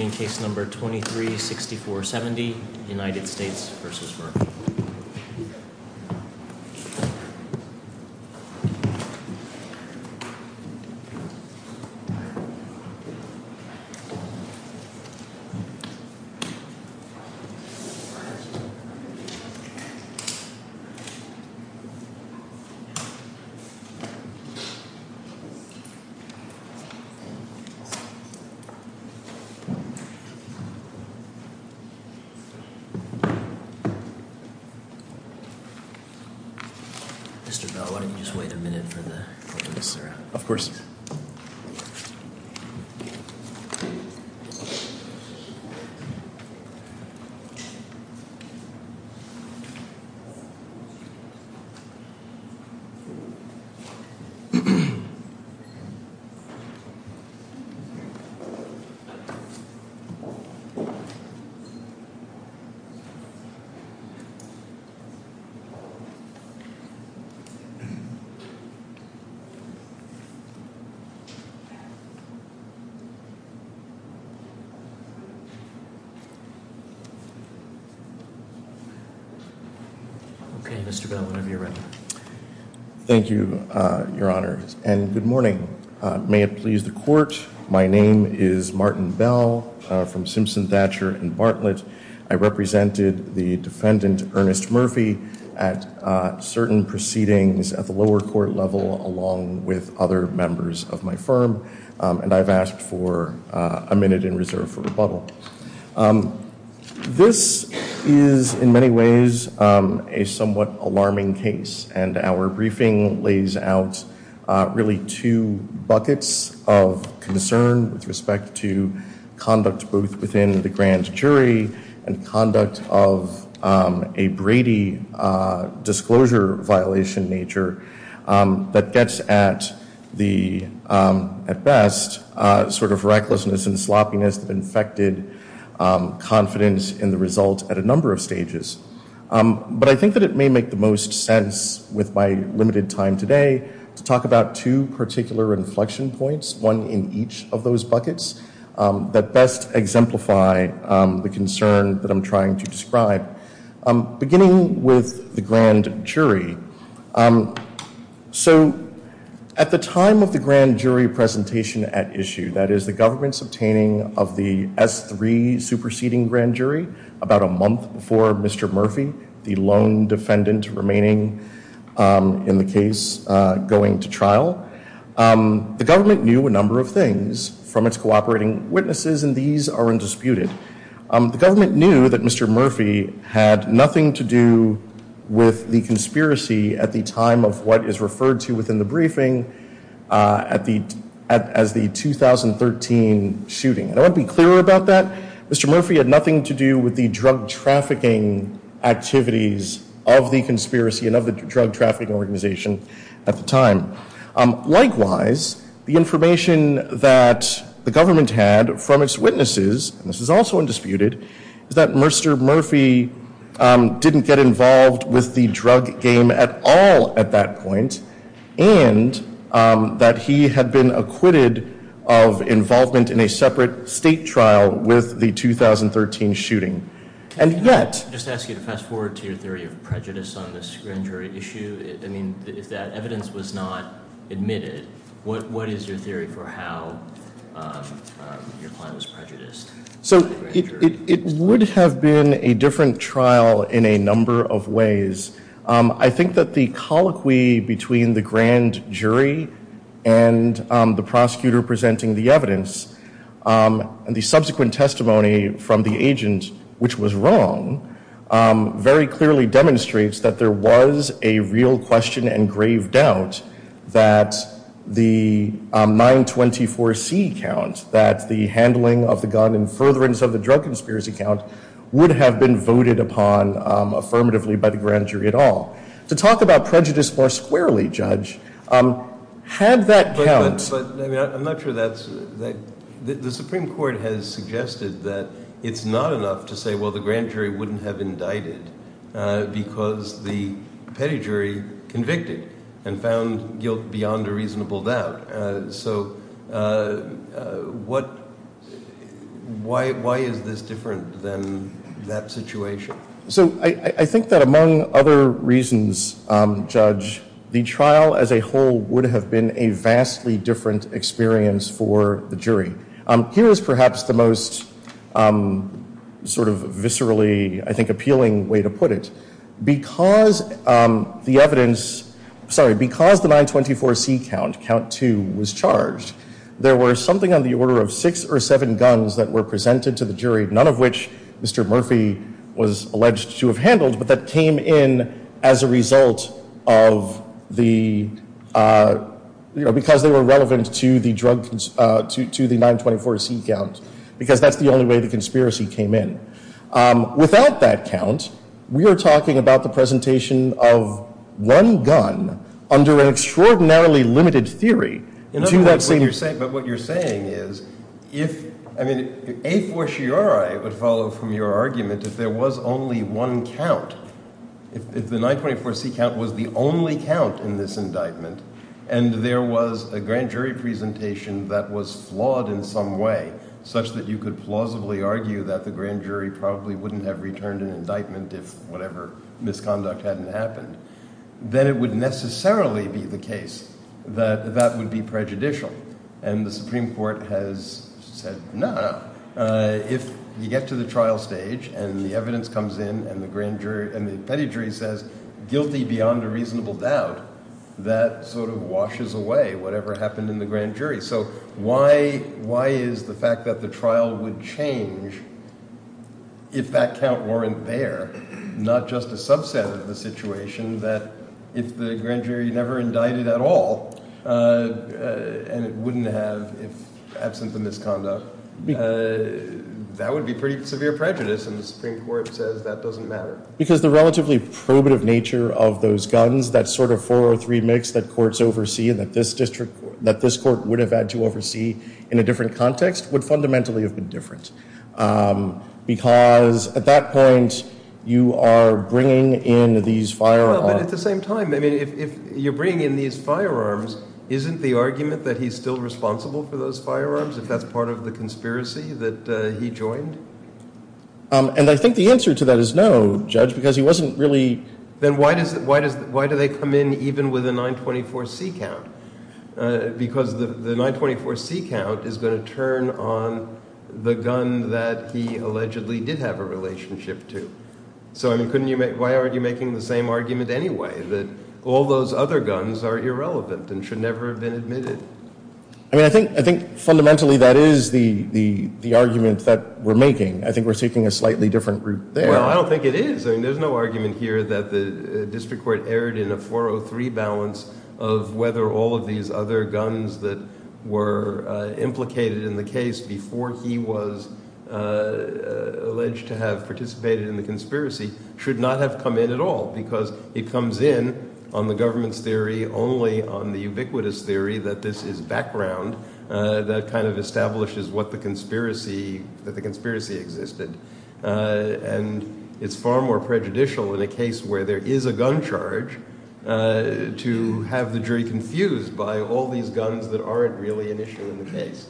in case number 23-6470 United States v. Burgess. Mr. Bell, why don't you just wait a minute for the, for the siren. Okay, Mr. Bell, whenever you're ready. Thank you, Your Honor, and good morning. May it please the court. My name is Martin Bell from Simpson Thatcher and Bartlett. I represented the defendant, Ernest Murphy, at certain proceedings at the lower court level, along with other members of my firm. And I've asked for a minute in reserve for rebuttal. This is, in many ways, a somewhat alarming case. And our briefing lays out really two buckets of concern with respect to conduct both within the grand jury and conduct of a Brady disclosure violation nature. That gets at the, at best, sort of recklessness and sloppiness that infected confidence in the result at a number of stages. But I think that it may make the most sense with my limited time today to talk about two particular inflection points, one in each of those buckets, that best exemplify the concern that I'm trying to describe. Beginning with the grand jury. So at the time of the grand jury presentation at issue, that is the government's obtaining of the S3 superseding grand jury about a month before Mr. Murphy, the lone defendant remaining in the case, going to trial. The government knew a number of things from its cooperating witnesses, and these are undisputed. The government knew that Mr. Murphy had nothing to do with the conspiracy at the time of what is referred to within the briefing as the 2013 shooting. And I want to be clear about that. Mr. Murphy had nothing to do with the drug trafficking activities of the conspiracy and of the drug trafficking organization at the time. Likewise, the information that the government had from its witnesses, and this is also undisputed, is that Mr. Murphy didn't get involved with the drug game at all at that point. And that he had been acquitted of involvement in a separate state trial with the 2013 shooting. Can I just ask you to fast forward to your theory of prejudice on this grand jury issue? I mean, if that evidence was not admitted, what is your theory for how your client was prejudiced? So it would have been a different trial in a number of ways. I think that the colloquy between the grand jury and the prosecutor presenting the evidence and the subsequent testimony from the agent, which was wrong, very clearly demonstrates that there was a real question and grave doubt that the 924C count, that the handling of the gun in furtherance of the drug conspiracy count, would have been voted upon affirmatively by the grand jury at all. To talk about prejudice more squarely, Judge, had that count... But I'm not sure that's... The Supreme Court has suggested that it's not enough to say, well, the grand jury wouldn't have indicted because the petty jury convicted and found guilt beyond a reasonable doubt. So why is this different than that situation? So I think that among other reasons, Judge, the trial as a whole would have been a vastly different experience for the jury. Here is perhaps the most sort of viscerally, I think, appealing way to put it. Because the evidence... Sorry, because the 924C count, count two, was charged, there were something on the order of six or seven guns that were presented to the jury, none of which Mr. Murphy was alleged to have handled, but that came in as a result of the... Because they were relevant to the drug... To the 924C count. Because that's the only way the conspiracy came in. Without that count, we are talking about the presentation of one gun under an extraordinarily limited theory to that same... The grand jury probably wouldn't have returned an indictment if whatever misconduct hadn't happened. Then it would necessarily be the case that that would be prejudicial. And the Supreme Court has said, no, no. If you get to the trial stage and the evidence comes in and the grand jury... And the petty jury says guilty beyond a reasonable doubt, that sort of washes away whatever happened in the grand jury. So why is the fact that the trial would change if that count weren't there? Not just a subset of the situation, that if the grand jury never indicted at all and it wouldn't have, if absent the misconduct, that would be pretty severe prejudice. And the Supreme Court says that doesn't matter. Because the relatively probative nature of those guns, that sort of 403 mix that courts oversee and that this district... That this court would have had to oversee in a different context would fundamentally have been different. Because at that point, you are bringing in these firearms... But at the same time, if you're bringing in these firearms, isn't the argument that he's still responsible for those firearms if that's part of the conspiracy that he joined? And I think the answer to that is no, Judge, because he wasn't really... Then why do they come in even with a 924C count? Because the 924C count is going to turn on the gun that he allegedly did have a relationship to. So why aren't you making the same argument anyway, that all those other guns are irrelevant and should never have been admitted? I mean, I think fundamentally that is the argument that we're making. I think we're taking a slightly different route there. Well, I don't think it is. I mean, there's no argument here that the district court erred in a 403 balance of whether all of these other guns that were implicated in the case before he was alleged to have participated in the conspiracy should not have come in at all. Because it comes in on the government's theory only on the ubiquitous theory that this is background that kind of establishes what the conspiracy – that the conspiracy existed. And it's far more prejudicial in a case where there is a gun charge to have the jury confused by all these guns that aren't really an issue in the case.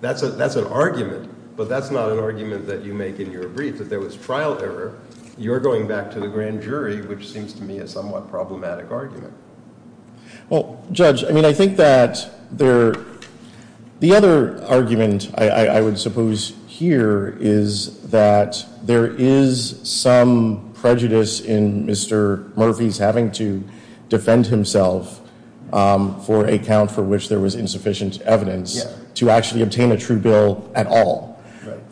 That's an argument. But that's not an argument that you make in your brief, that there was trial error. You're going back to the grand jury, which seems to me a somewhat problematic argument. Well, Judge, I mean, I think that there – the other argument I would suppose here is that there is some prejudice in Mr. Murphy's having to defend himself for a count for which there was insufficient evidence to actually obtain a true bill at all.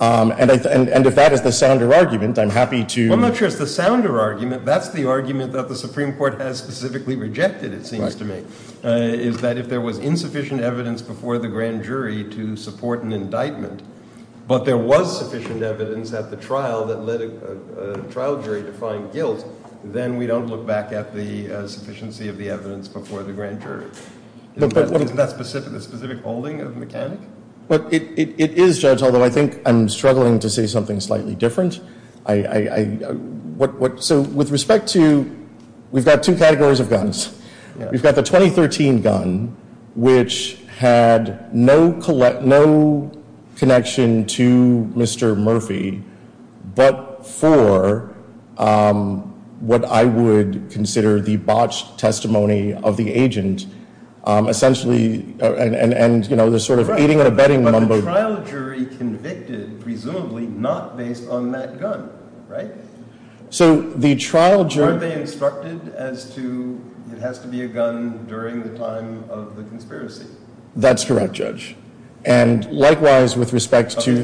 And if that is the sounder argument, I'm happy to – Well, I'm not sure it's the sounder argument. That's the argument that the Supreme Court has specifically rejected, it seems to me, is that if there was insufficient evidence before the grand jury to support an indictment, but there was sufficient evidence at the trial that led a trial jury to find guilt, then we don't look back at the sufficiency of the evidence before the grand jury. Isn't that specific, the specific holding of the mechanic? Well, it is, Judge, although I think I'm struggling to say something slightly different. So with respect to – we've got two categories of guns. We've got the 2013 gun, which had no connection to Mr. Murphy but for what I would consider the botched testimony of the agent. But the trial jury convicted presumably not based on that gun, right? So the trial jury – Aren't they instructed as to it has to be a gun during the time of the conspiracy? That's correct, Judge. And likewise, with respect to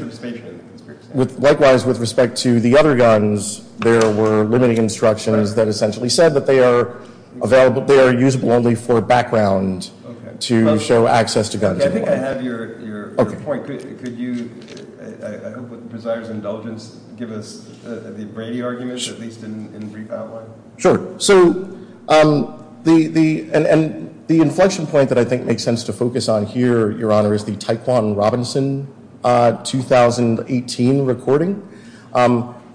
the other guns, there were limiting instructions that essentially said that they are available – they are usable only for background to show access to guns. Okay, I think I have your point. Could you, I hope with presider's indulgence, give us the Brady argument, at least in brief outline? Sure. So the inflection point that I think makes sense to focus on here, Your Honor, is the Taequann Robinson 2018 recording.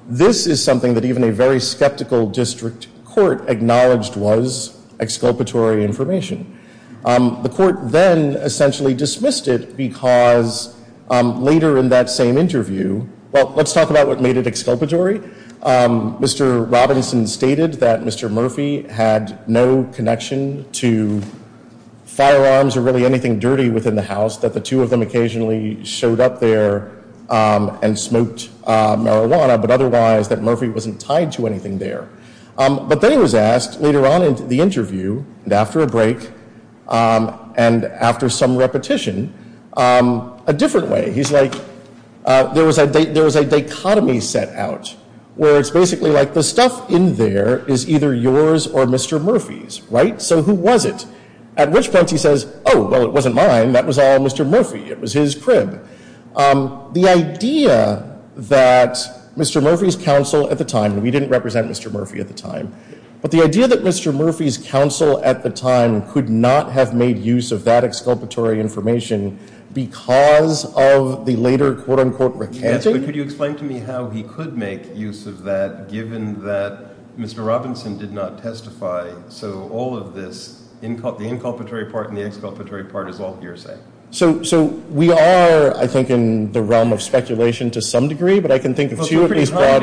This is something that even a very skeptical district court acknowledged was exculpatory information. The court then essentially dismissed it because later in that same interview – well, let's talk about what made it exculpatory. Mr. Robinson stated that Mr. Murphy had no connection to firearms or really anything dirty within the house, that the two of them occasionally showed up there and smoked marijuana, but otherwise that Murphy wasn't tied to anything there. But then he was asked later on in the interview, and after a break, and after some repetition, a different way. He's like, there was a dichotomy set out where it's basically like the stuff in there is either yours or Mr. Murphy's, right? So who was it? At which point he says, oh, well, it wasn't mine. That was all Mr. Murphy. It was his crib. The idea that Mr. Murphy's counsel at the time – and we didn't represent Mr. Murphy at the time – but the idea that Mr. Murphy's counsel at the time could not have made use of that exculpatory information because of the later, quote-unquote, recanting – Yes, but could you explain to me how he could make use of that, given that Mr. Robinson did not testify? So all of this, the inculpatory part and the exculpatory part, is all hearsay. So we are, I think, in the realm of speculation to some degree, but I can think of two at least broad – That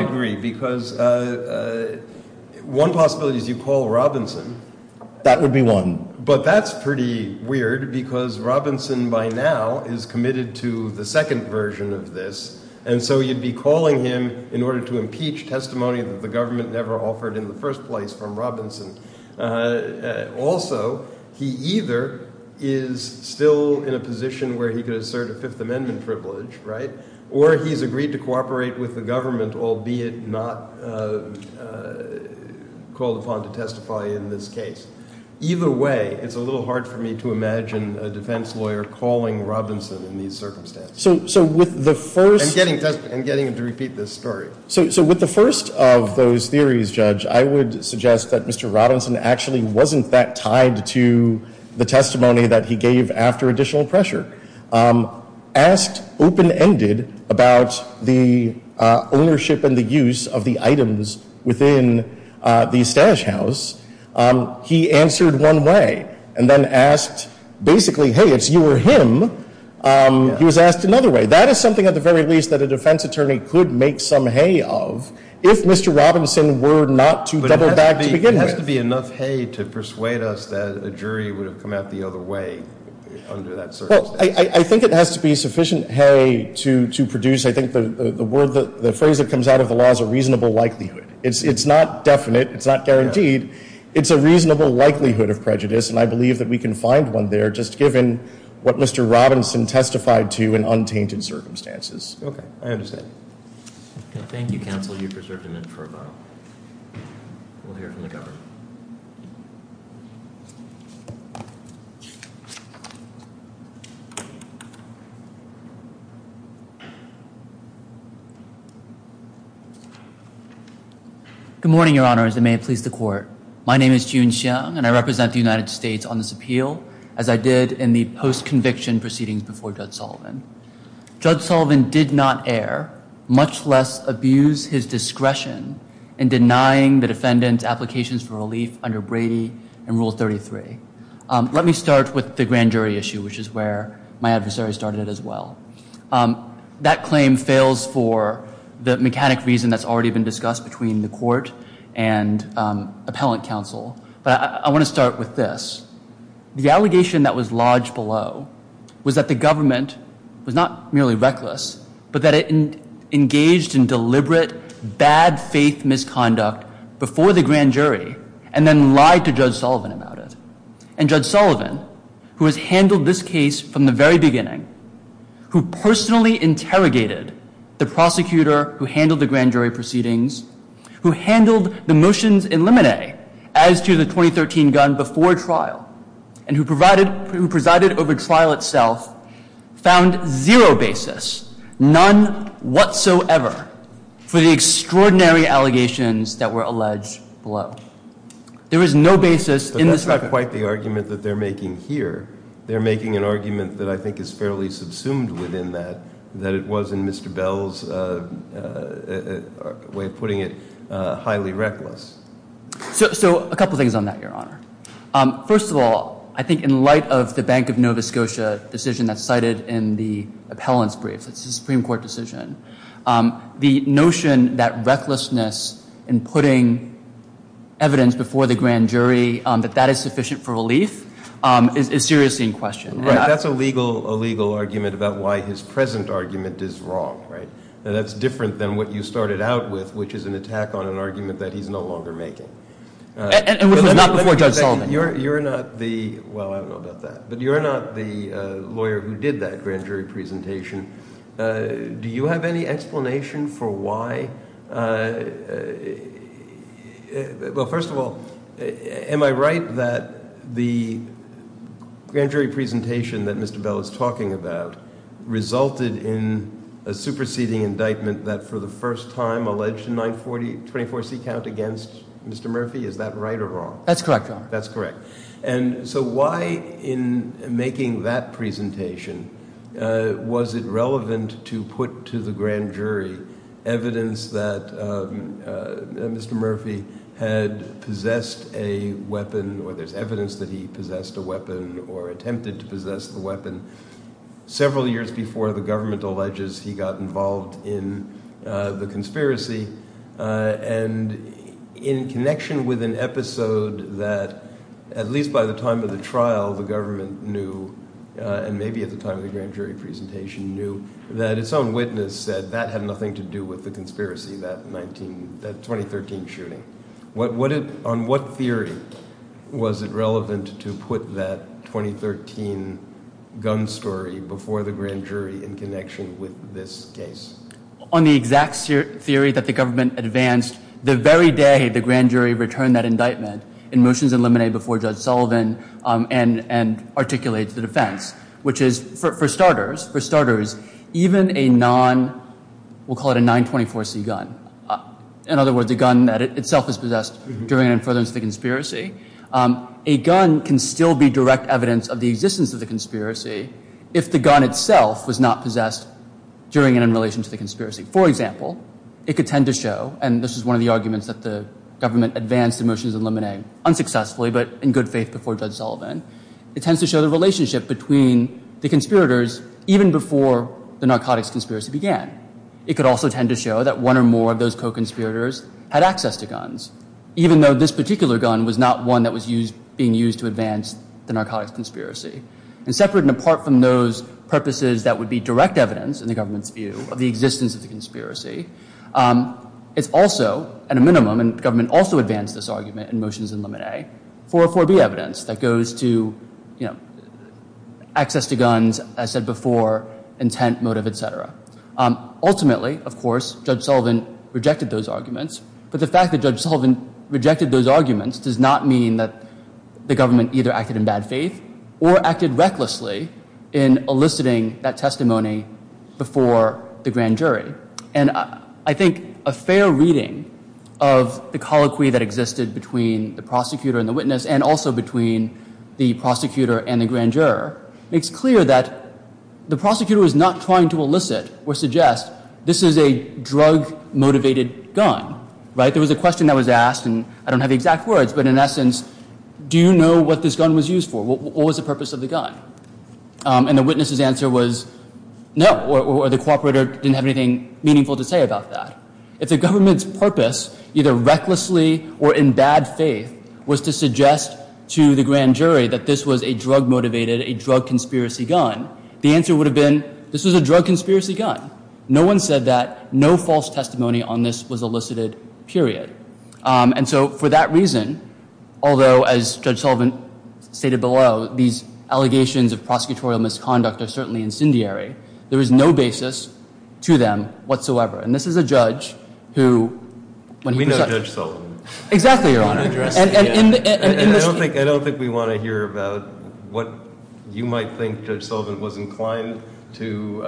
would be one. But that's pretty weird because Robinson by now is committed to the second version of this, and so you'd be calling him in order to impeach testimony that the government never offered in the first place from Robinson. Also, he either is still in a position where he could assert a Fifth Amendment privilege, right, or he's agreed to cooperate with the government, albeit not called upon to testify in this case. Either way, it's a little hard for me to imagine a defense lawyer calling Robinson in these circumstances. So with the first – And getting him to repeat this story. So with the first of those theories, Judge, I would suggest that Mr. Robinson actually wasn't that tied to the testimony that he gave after additional pressure. Asked open-ended about the ownership and the use of the items within the stash house, he answered one way and then asked basically, hey, it's you or him. He was asked another way. So that is something at the very least that a defense attorney could make some hay of if Mr. Robinson were not to double back to begin with. But it has to be enough hay to persuade us that a jury would have come out the other way under that circumstance. Well, I think it has to be sufficient hay to produce – I think the phrase that comes out of the law is a reasonable likelihood. It's not definite. It's not guaranteed. It's a reasonable likelihood of prejudice, and I believe that we can find one there just given what Mr. Robinson testified to in untainted circumstances. Okay. I understand. Okay. Thank you, counsel. You've preserved him in for a while. We'll hear from the governor. Good morning, Your Honors, and may it please the court. My name is Jun Xiong, and I represent the United States on this appeal, as I did in the post-conviction proceedings before Judge Sullivan. Judge Sullivan did not err, much less abuse his discretion in denying the defendant's applications for relief under Brady and Rule 33. Let me start with the grand jury issue, which is where my adversary started as well. That claim fails for the mechanic reason that's already been discussed between the court and appellant counsel. But I want to start with this. The allegation that was lodged below was that the government was not merely reckless, but that it engaged in deliberate, bad-faith misconduct before the grand jury, and then lied to Judge Sullivan about it. And Judge Sullivan, who has handled this case from the very beginning, who personally interrogated the prosecutor who handled the grand jury proceedings, who handled the motions in limine as to the 2013 gun before trial, and who presided over trial itself, found zero basis, none whatsoever, for the extraordinary allegations that were alleged below. There is no basis in this argument. But that's not quite the argument that they're making here. They're making an argument that I think is fairly subsumed within that, that it was, in Mr. Bell's way of putting it, highly reckless. So a couple things on that, Your Honor. First of all, I think in light of the Bank of Nova Scotia decision that's cited in the appellant's brief, the Supreme Court decision, the notion that recklessness in putting evidence before the grand jury, that that is sufficient for relief, is seriously in question. Right. That's a legal argument about why his present argument is wrong, right? That's different than what you started out with, which is an attack on an argument that he's no longer making. Not before Judge Solomon. You're not the, well, I don't know about that, but you're not the lawyer who did that grand jury presentation. Do you have any explanation for why? Well, first of all, am I right that the grand jury presentation that Mr. Bell is talking about resulted in a superseding indictment that for the first time alleged a 940, 24C count against Mr. Murphy? Is that right or wrong? That's correct, Your Honor. That's correct. And so why in making that presentation was it relevant to put to the grand jury evidence that Mr. Murphy had possessed a weapon, or there's evidence that he possessed a weapon or attempted to possess the weapon, several years before the government alleges he got involved in the conspiracy? And in connection with an episode that, at least by the time of the trial, the government knew, and maybe at the time of the grand jury presentation knew, that its own witness said that had nothing to do with the conspiracy, that 2013 shooting. On what theory was it relevant to put that 2013 gun story before the grand jury in connection with this case? On the exact theory that the government advanced the very day the grand jury returned that indictment in motions eliminated before Judge Sullivan and articulated to the defense, which is, for starters, even a non, we'll call it a 924C gun, in other words, a gun that itself is possessed during and in furtherance of the conspiracy, a gun can still be direct evidence of the existence of the conspiracy if the gun itself was not possessed during and in relation to the conspiracy. For example, it could tend to show, and this is one of the arguments that the government advanced in motions eliminated unsuccessfully, but in good faith before Judge Sullivan, it tends to show the relationship between the conspirators even before the narcotics conspiracy began. It could also tend to show that one or more of those co-conspirators had access to guns, even though this particular gun was not one that was being used to advance the narcotics conspiracy. And separate and apart from those purposes that would be direct evidence, in the government's view, of the existence of the conspiracy, it's also, at a minimum, and the government also advanced this argument in motions eliminated, 404B evidence that goes to access to guns, as said before, intent, motive, et cetera. Ultimately, of course, Judge Sullivan rejected those arguments, but the fact that Judge Sullivan rejected those arguments does not mean that the government either acted in bad faith or acted recklessly in eliciting that testimony before the grand jury. And I think a fair reading of the colloquy that existed between the prosecutor and the witness and also between the prosecutor and the grand juror makes clear that the prosecutor is not trying to elicit or suggest this is a drug-motivated gun. There was a question that was asked, and I don't have the exact words, but in essence, do you know what this gun was used for? What was the purpose of the gun? And the witness's answer was no, or the cooperator didn't have anything meaningful to say about that. If the government's purpose, either recklessly or in bad faith, was to suggest to the grand jury that this was a drug-motivated, a drug-conspiracy gun, the answer would have been this was a drug-conspiracy gun. No one said that. No false testimony on this was elicited, period. And so for that reason, although, as Judge Sullivan stated below, these allegations of prosecutorial misconduct are certainly incendiary, there is no basis to them whatsoever. And this is a judge who, when he presided- We know Judge Sullivan. Exactly, Your Honor. I don't think we want to hear about what you might think Judge Sullivan was inclined to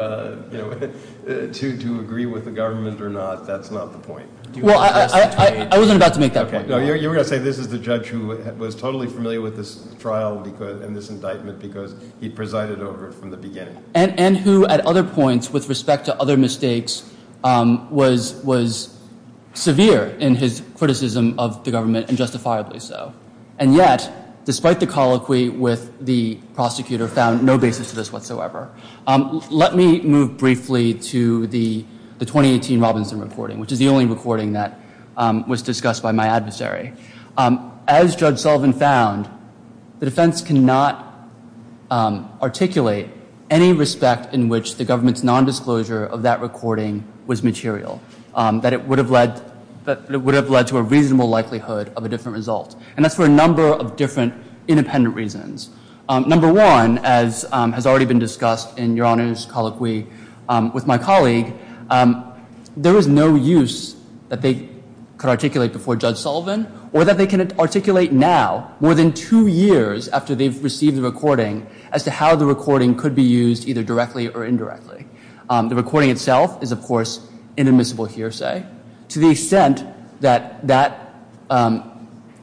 agree with the government or not. That's not the point. Well, I wasn't about to make that point. No, you were going to say this is the judge who was totally familiar with this trial and this indictment because he presided over it from the beginning. And who, at other points, with respect to other mistakes, was severe in his criticism of the government, and justifiably so. And yet, despite the colloquy with the prosecutor, found no basis to this whatsoever. Let me move briefly to the 2018 Robinson reporting, which is the only recording that was discussed by my adversary. As Judge Sullivan found, the defense cannot articulate any respect in which the government's nondisclosure of that recording was material. That it would have led to a reasonable likelihood of a different result. And that's for a number of different independent reasons. Number one, as has already been discussed in Your Honor's colloquy with my colleague, there is no use that they could articulate before Judge Sullivan, or that they can articulate now, more than two years after they've received the recording, as to how the recording could be used either directly or indirectly. The recording itself is, of course, inadmissible hearsay. To the extent that that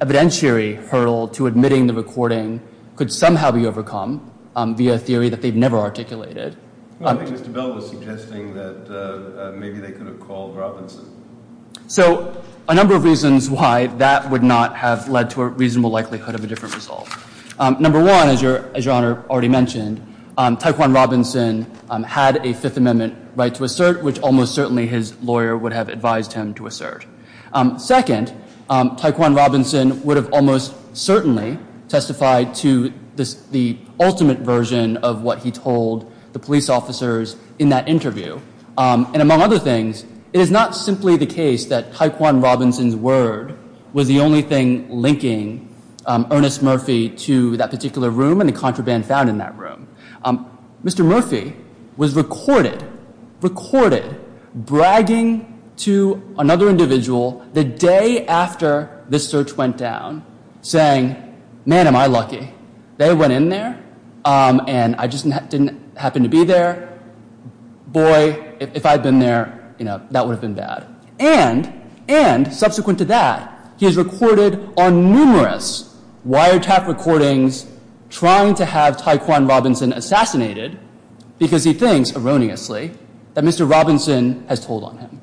evidentiary hurdle to admitting the recording could somehow be overcome via a theory that they've never articulated. I think Mr. Bell was suggesting that maybe they could have called Robinson. So, a number of reasons why that would not have led to a reasonable likelihood of a different result. Number one, as Your Honor already mentioned, Taekwon Robinson had a Fifth Amendment right to assert, which almost certainly his lawyer would have advised him to assert. Second, Taekwon Robinson would have almost certainly testified to the ultimate version of what he told the police officers in that interview. And among other things, it is not simply the case that Taekwon Robinson's word was the only thing linking Ernest Murphy to that particular room and the contraband found in that room. Mr. Murphy was recorded bragging to another individual the day after this search went down, saying, Man, am I lucky. They went in there, and I just didn't happen to be there. Boy, if I'd been there, that would have been bad. And, subsequent to that, he is recorded on numerous wiretap recordings trying to have Taekwon Robinson assassinated because he thinks, erroneously, that Mr. Robinson has told on him.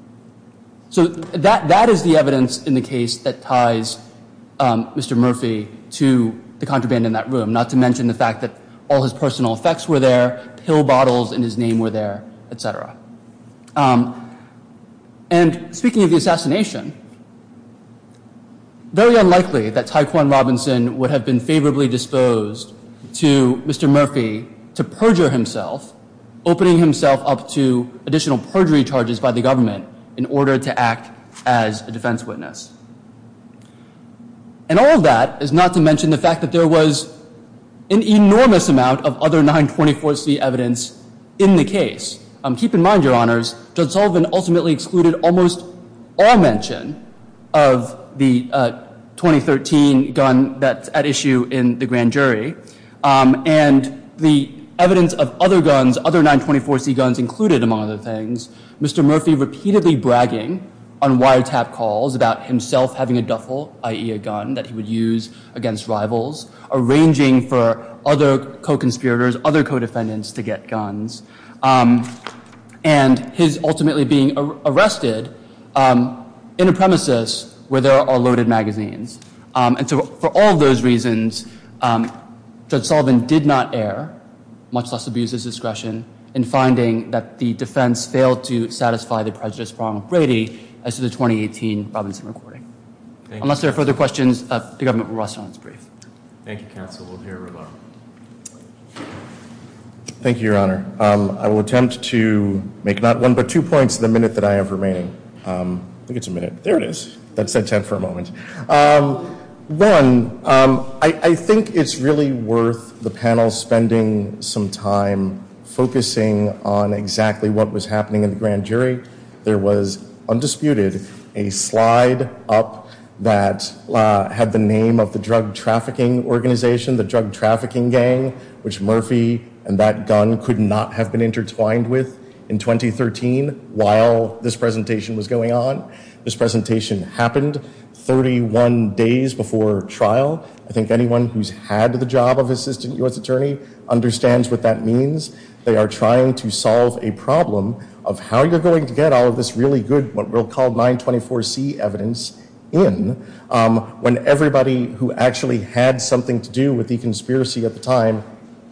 So, that is the evidence in the case that ties Mr. Murphy to the contraband in that room, not to mention the fact that all his personal effects were there, pill bottles in his name were there, etc. And, speaking of the assassination, very unlikely that Taekwon Robinson would have been favorably disposed to Mr. Murphy to perjure himself, opening himself up to additional perjury charges by the government in order to act as a defense witness. And all of that is not to mention the fact that there was an enormous amount of other 924c evidence in the case. Keep in mind, Your Honors, Judge Sullivan ultimately excluded almost all mention of the 2013 gun that's at issue in the grand jury. And the evidence of other guns, other 924c guns included, among other things, Mr. Murphy repeatedly bragging on wiretap calls about himself having a duffel, i.e. a gun that he would use against rivals, arranging for other co-conspirators, other co-defendants to get guns, and his ultimately being arrested in a premises where there are loaded magazines. And so, for all of those reasons, Judge Sullivan did not err, much less abuse his discretion, in finding that the defense failed to satisfy the prejudice prong of Brady as to the 2018 Robinson recording. Unless there are further questions, the government will rest on its brief. Thank you, Counsel. We'll hear from Roboto. Thank you, Your Honor. I will attempt to make not one but two points in the minute that I have remaining. I think it's a minute. There it is. That said, ten for a moment. One, I think it's really worth the panel spending some time focusing on exactly what was happening in the grand jury. There was, undisputed, a slide up that had the name of the drug trafficking organization, the drug trafficking gang, which Murphy and that gun could not have been intertwined with in 2013 while this presentation was going on. This presentation happened 31 days before trial. I think anyone who's had the job of assistant U.S. attorney understands what that means. They are trying to solve a problem of how you're going to get all of this really good, what we'll call 924C evidence in, when everybody who actually had something to do with the conspiracy at the time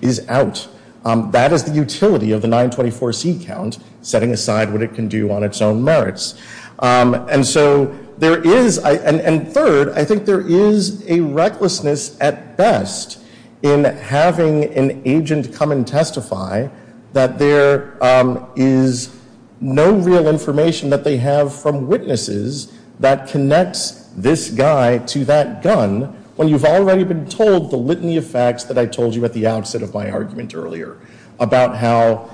is out. That is the utility of the 924C count, setting aside what it can do on its own merits. And so there is, and third, I think there is a recklessness at best in having an agent come and testify that there is no real information that they have from witnesses that connects this guy to that gun when you've already been told the litany of facts that I told you at the outset of my argument earlier about how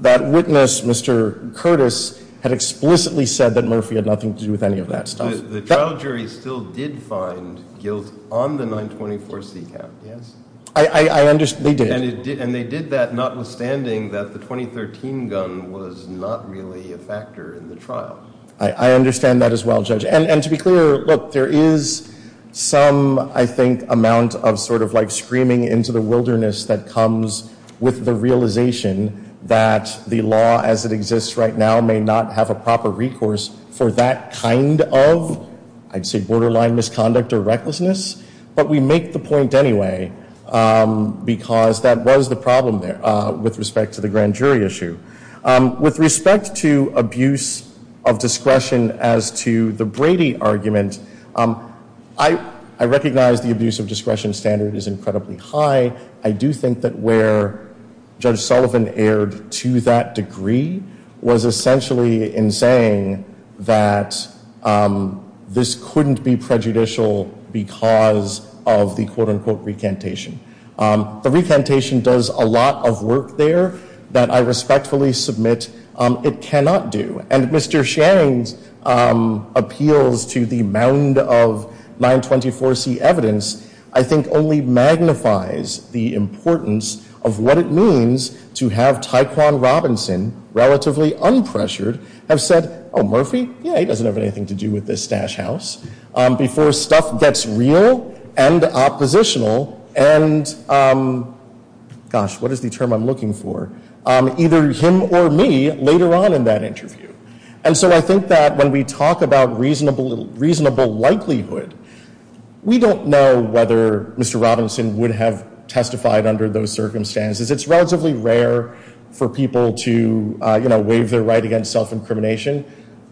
that witness, Mr. Curtis, had explicitly said that Murphy had nothing to do with any of that stuff. The trial jury still did find guilt on the 924C count, yes? I understand, they did. And they did that notwithstanding that the 2013 gun was not really a factor in the trial. I understand that as well, Judge. And to be clear, look, there is some, I think, amount of sort of like screaming into the wilderness that comes with the realization that the law as it exists right now may not have a proper recourse for that kind of, I'd say, borderline misconduct or recklessness. But we make the point anyway because that was the problem there with respect to the grand jury issue. With respect to abuse of discretion as to the Brady argument, I recognize the abuse of discretion standard is incredibly high. I do think that where Judge Sullivan erred to that degree was essentially in saying that this couldn't be prejudicial because of the quote, unquote, recantation. The recantation does a lot of work there that I respectfully submit it cannot do. And Mr. Sharing's appeals to the mound of 924C evidence, I think, only magnifies the importance of what it means to have Tyquan Robinson, relatively unpressured, have said, oh, Murphy, yeah, he doesn't have anything to do with this stash house, before stuff gets real and oppositional and, gosh, what is the term I'm looking for? Either him or me later on in that interview. And so I think that when we talk about reasonable likelihood, we don't know whether Mr. Robinson would have testified under those circumstances. It's relatively rare for people to, you know, waive their right against self-incrimination.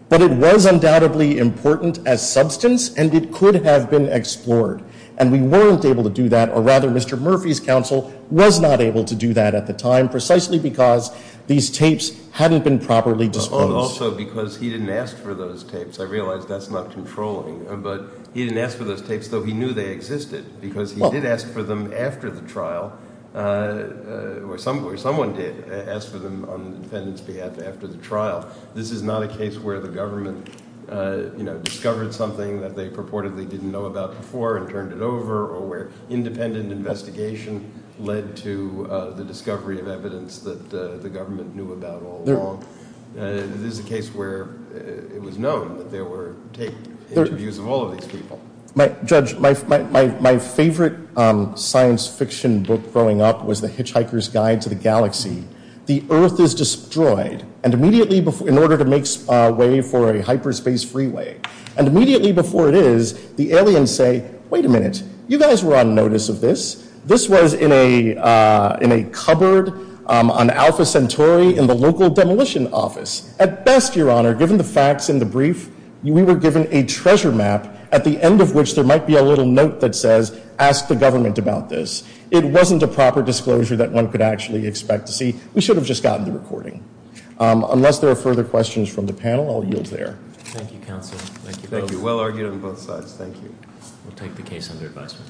But it was undoubtedly important as substance, and it could have been explored. And we weren't able to do that, or rather Mr. Murphy's counsel was not able to do that at the time, precisely because these tapes hadn't been properly disposed. But also because he didn't ask for those tapes. I realize that's not controlling. But he didn't ask for those tapes, though he knew they existed, because he did ask for them after the trial, or someone did ask for them on the defendant's behalf after the trial. This is not a case where the government, you know, discovered something that they purportedly didn't know about before and turned it over, or where independent investigation led to the discovery of evidence that the government knew about all along. This is a case where it was known that there were tape interviews of all of these people. Judge, my favorite science fiction book growing up was The Hitchhiker's Guide to the Galaxy. The Earth is destroyed, and immediately, in order to make way for a hyperspace freeway, and immediately before it is, the aliens say, wait a minute, you guys were on notice of this. This was in a cupboard on Alpha Centauri in the local demolition office. At best, Your Honor, given the facts in the brief, we were given a treasure map, at the end of which there might be a little note that says, ask the government about this. It wasn't a proper disclosure that one could actually expect to see. We should have just gotten the recording. Unless there are further questions from the panel, I'll yield there. Thank you, counsel. Thank you. Well argued on both sides. Thank you. We'll take the case under advisement.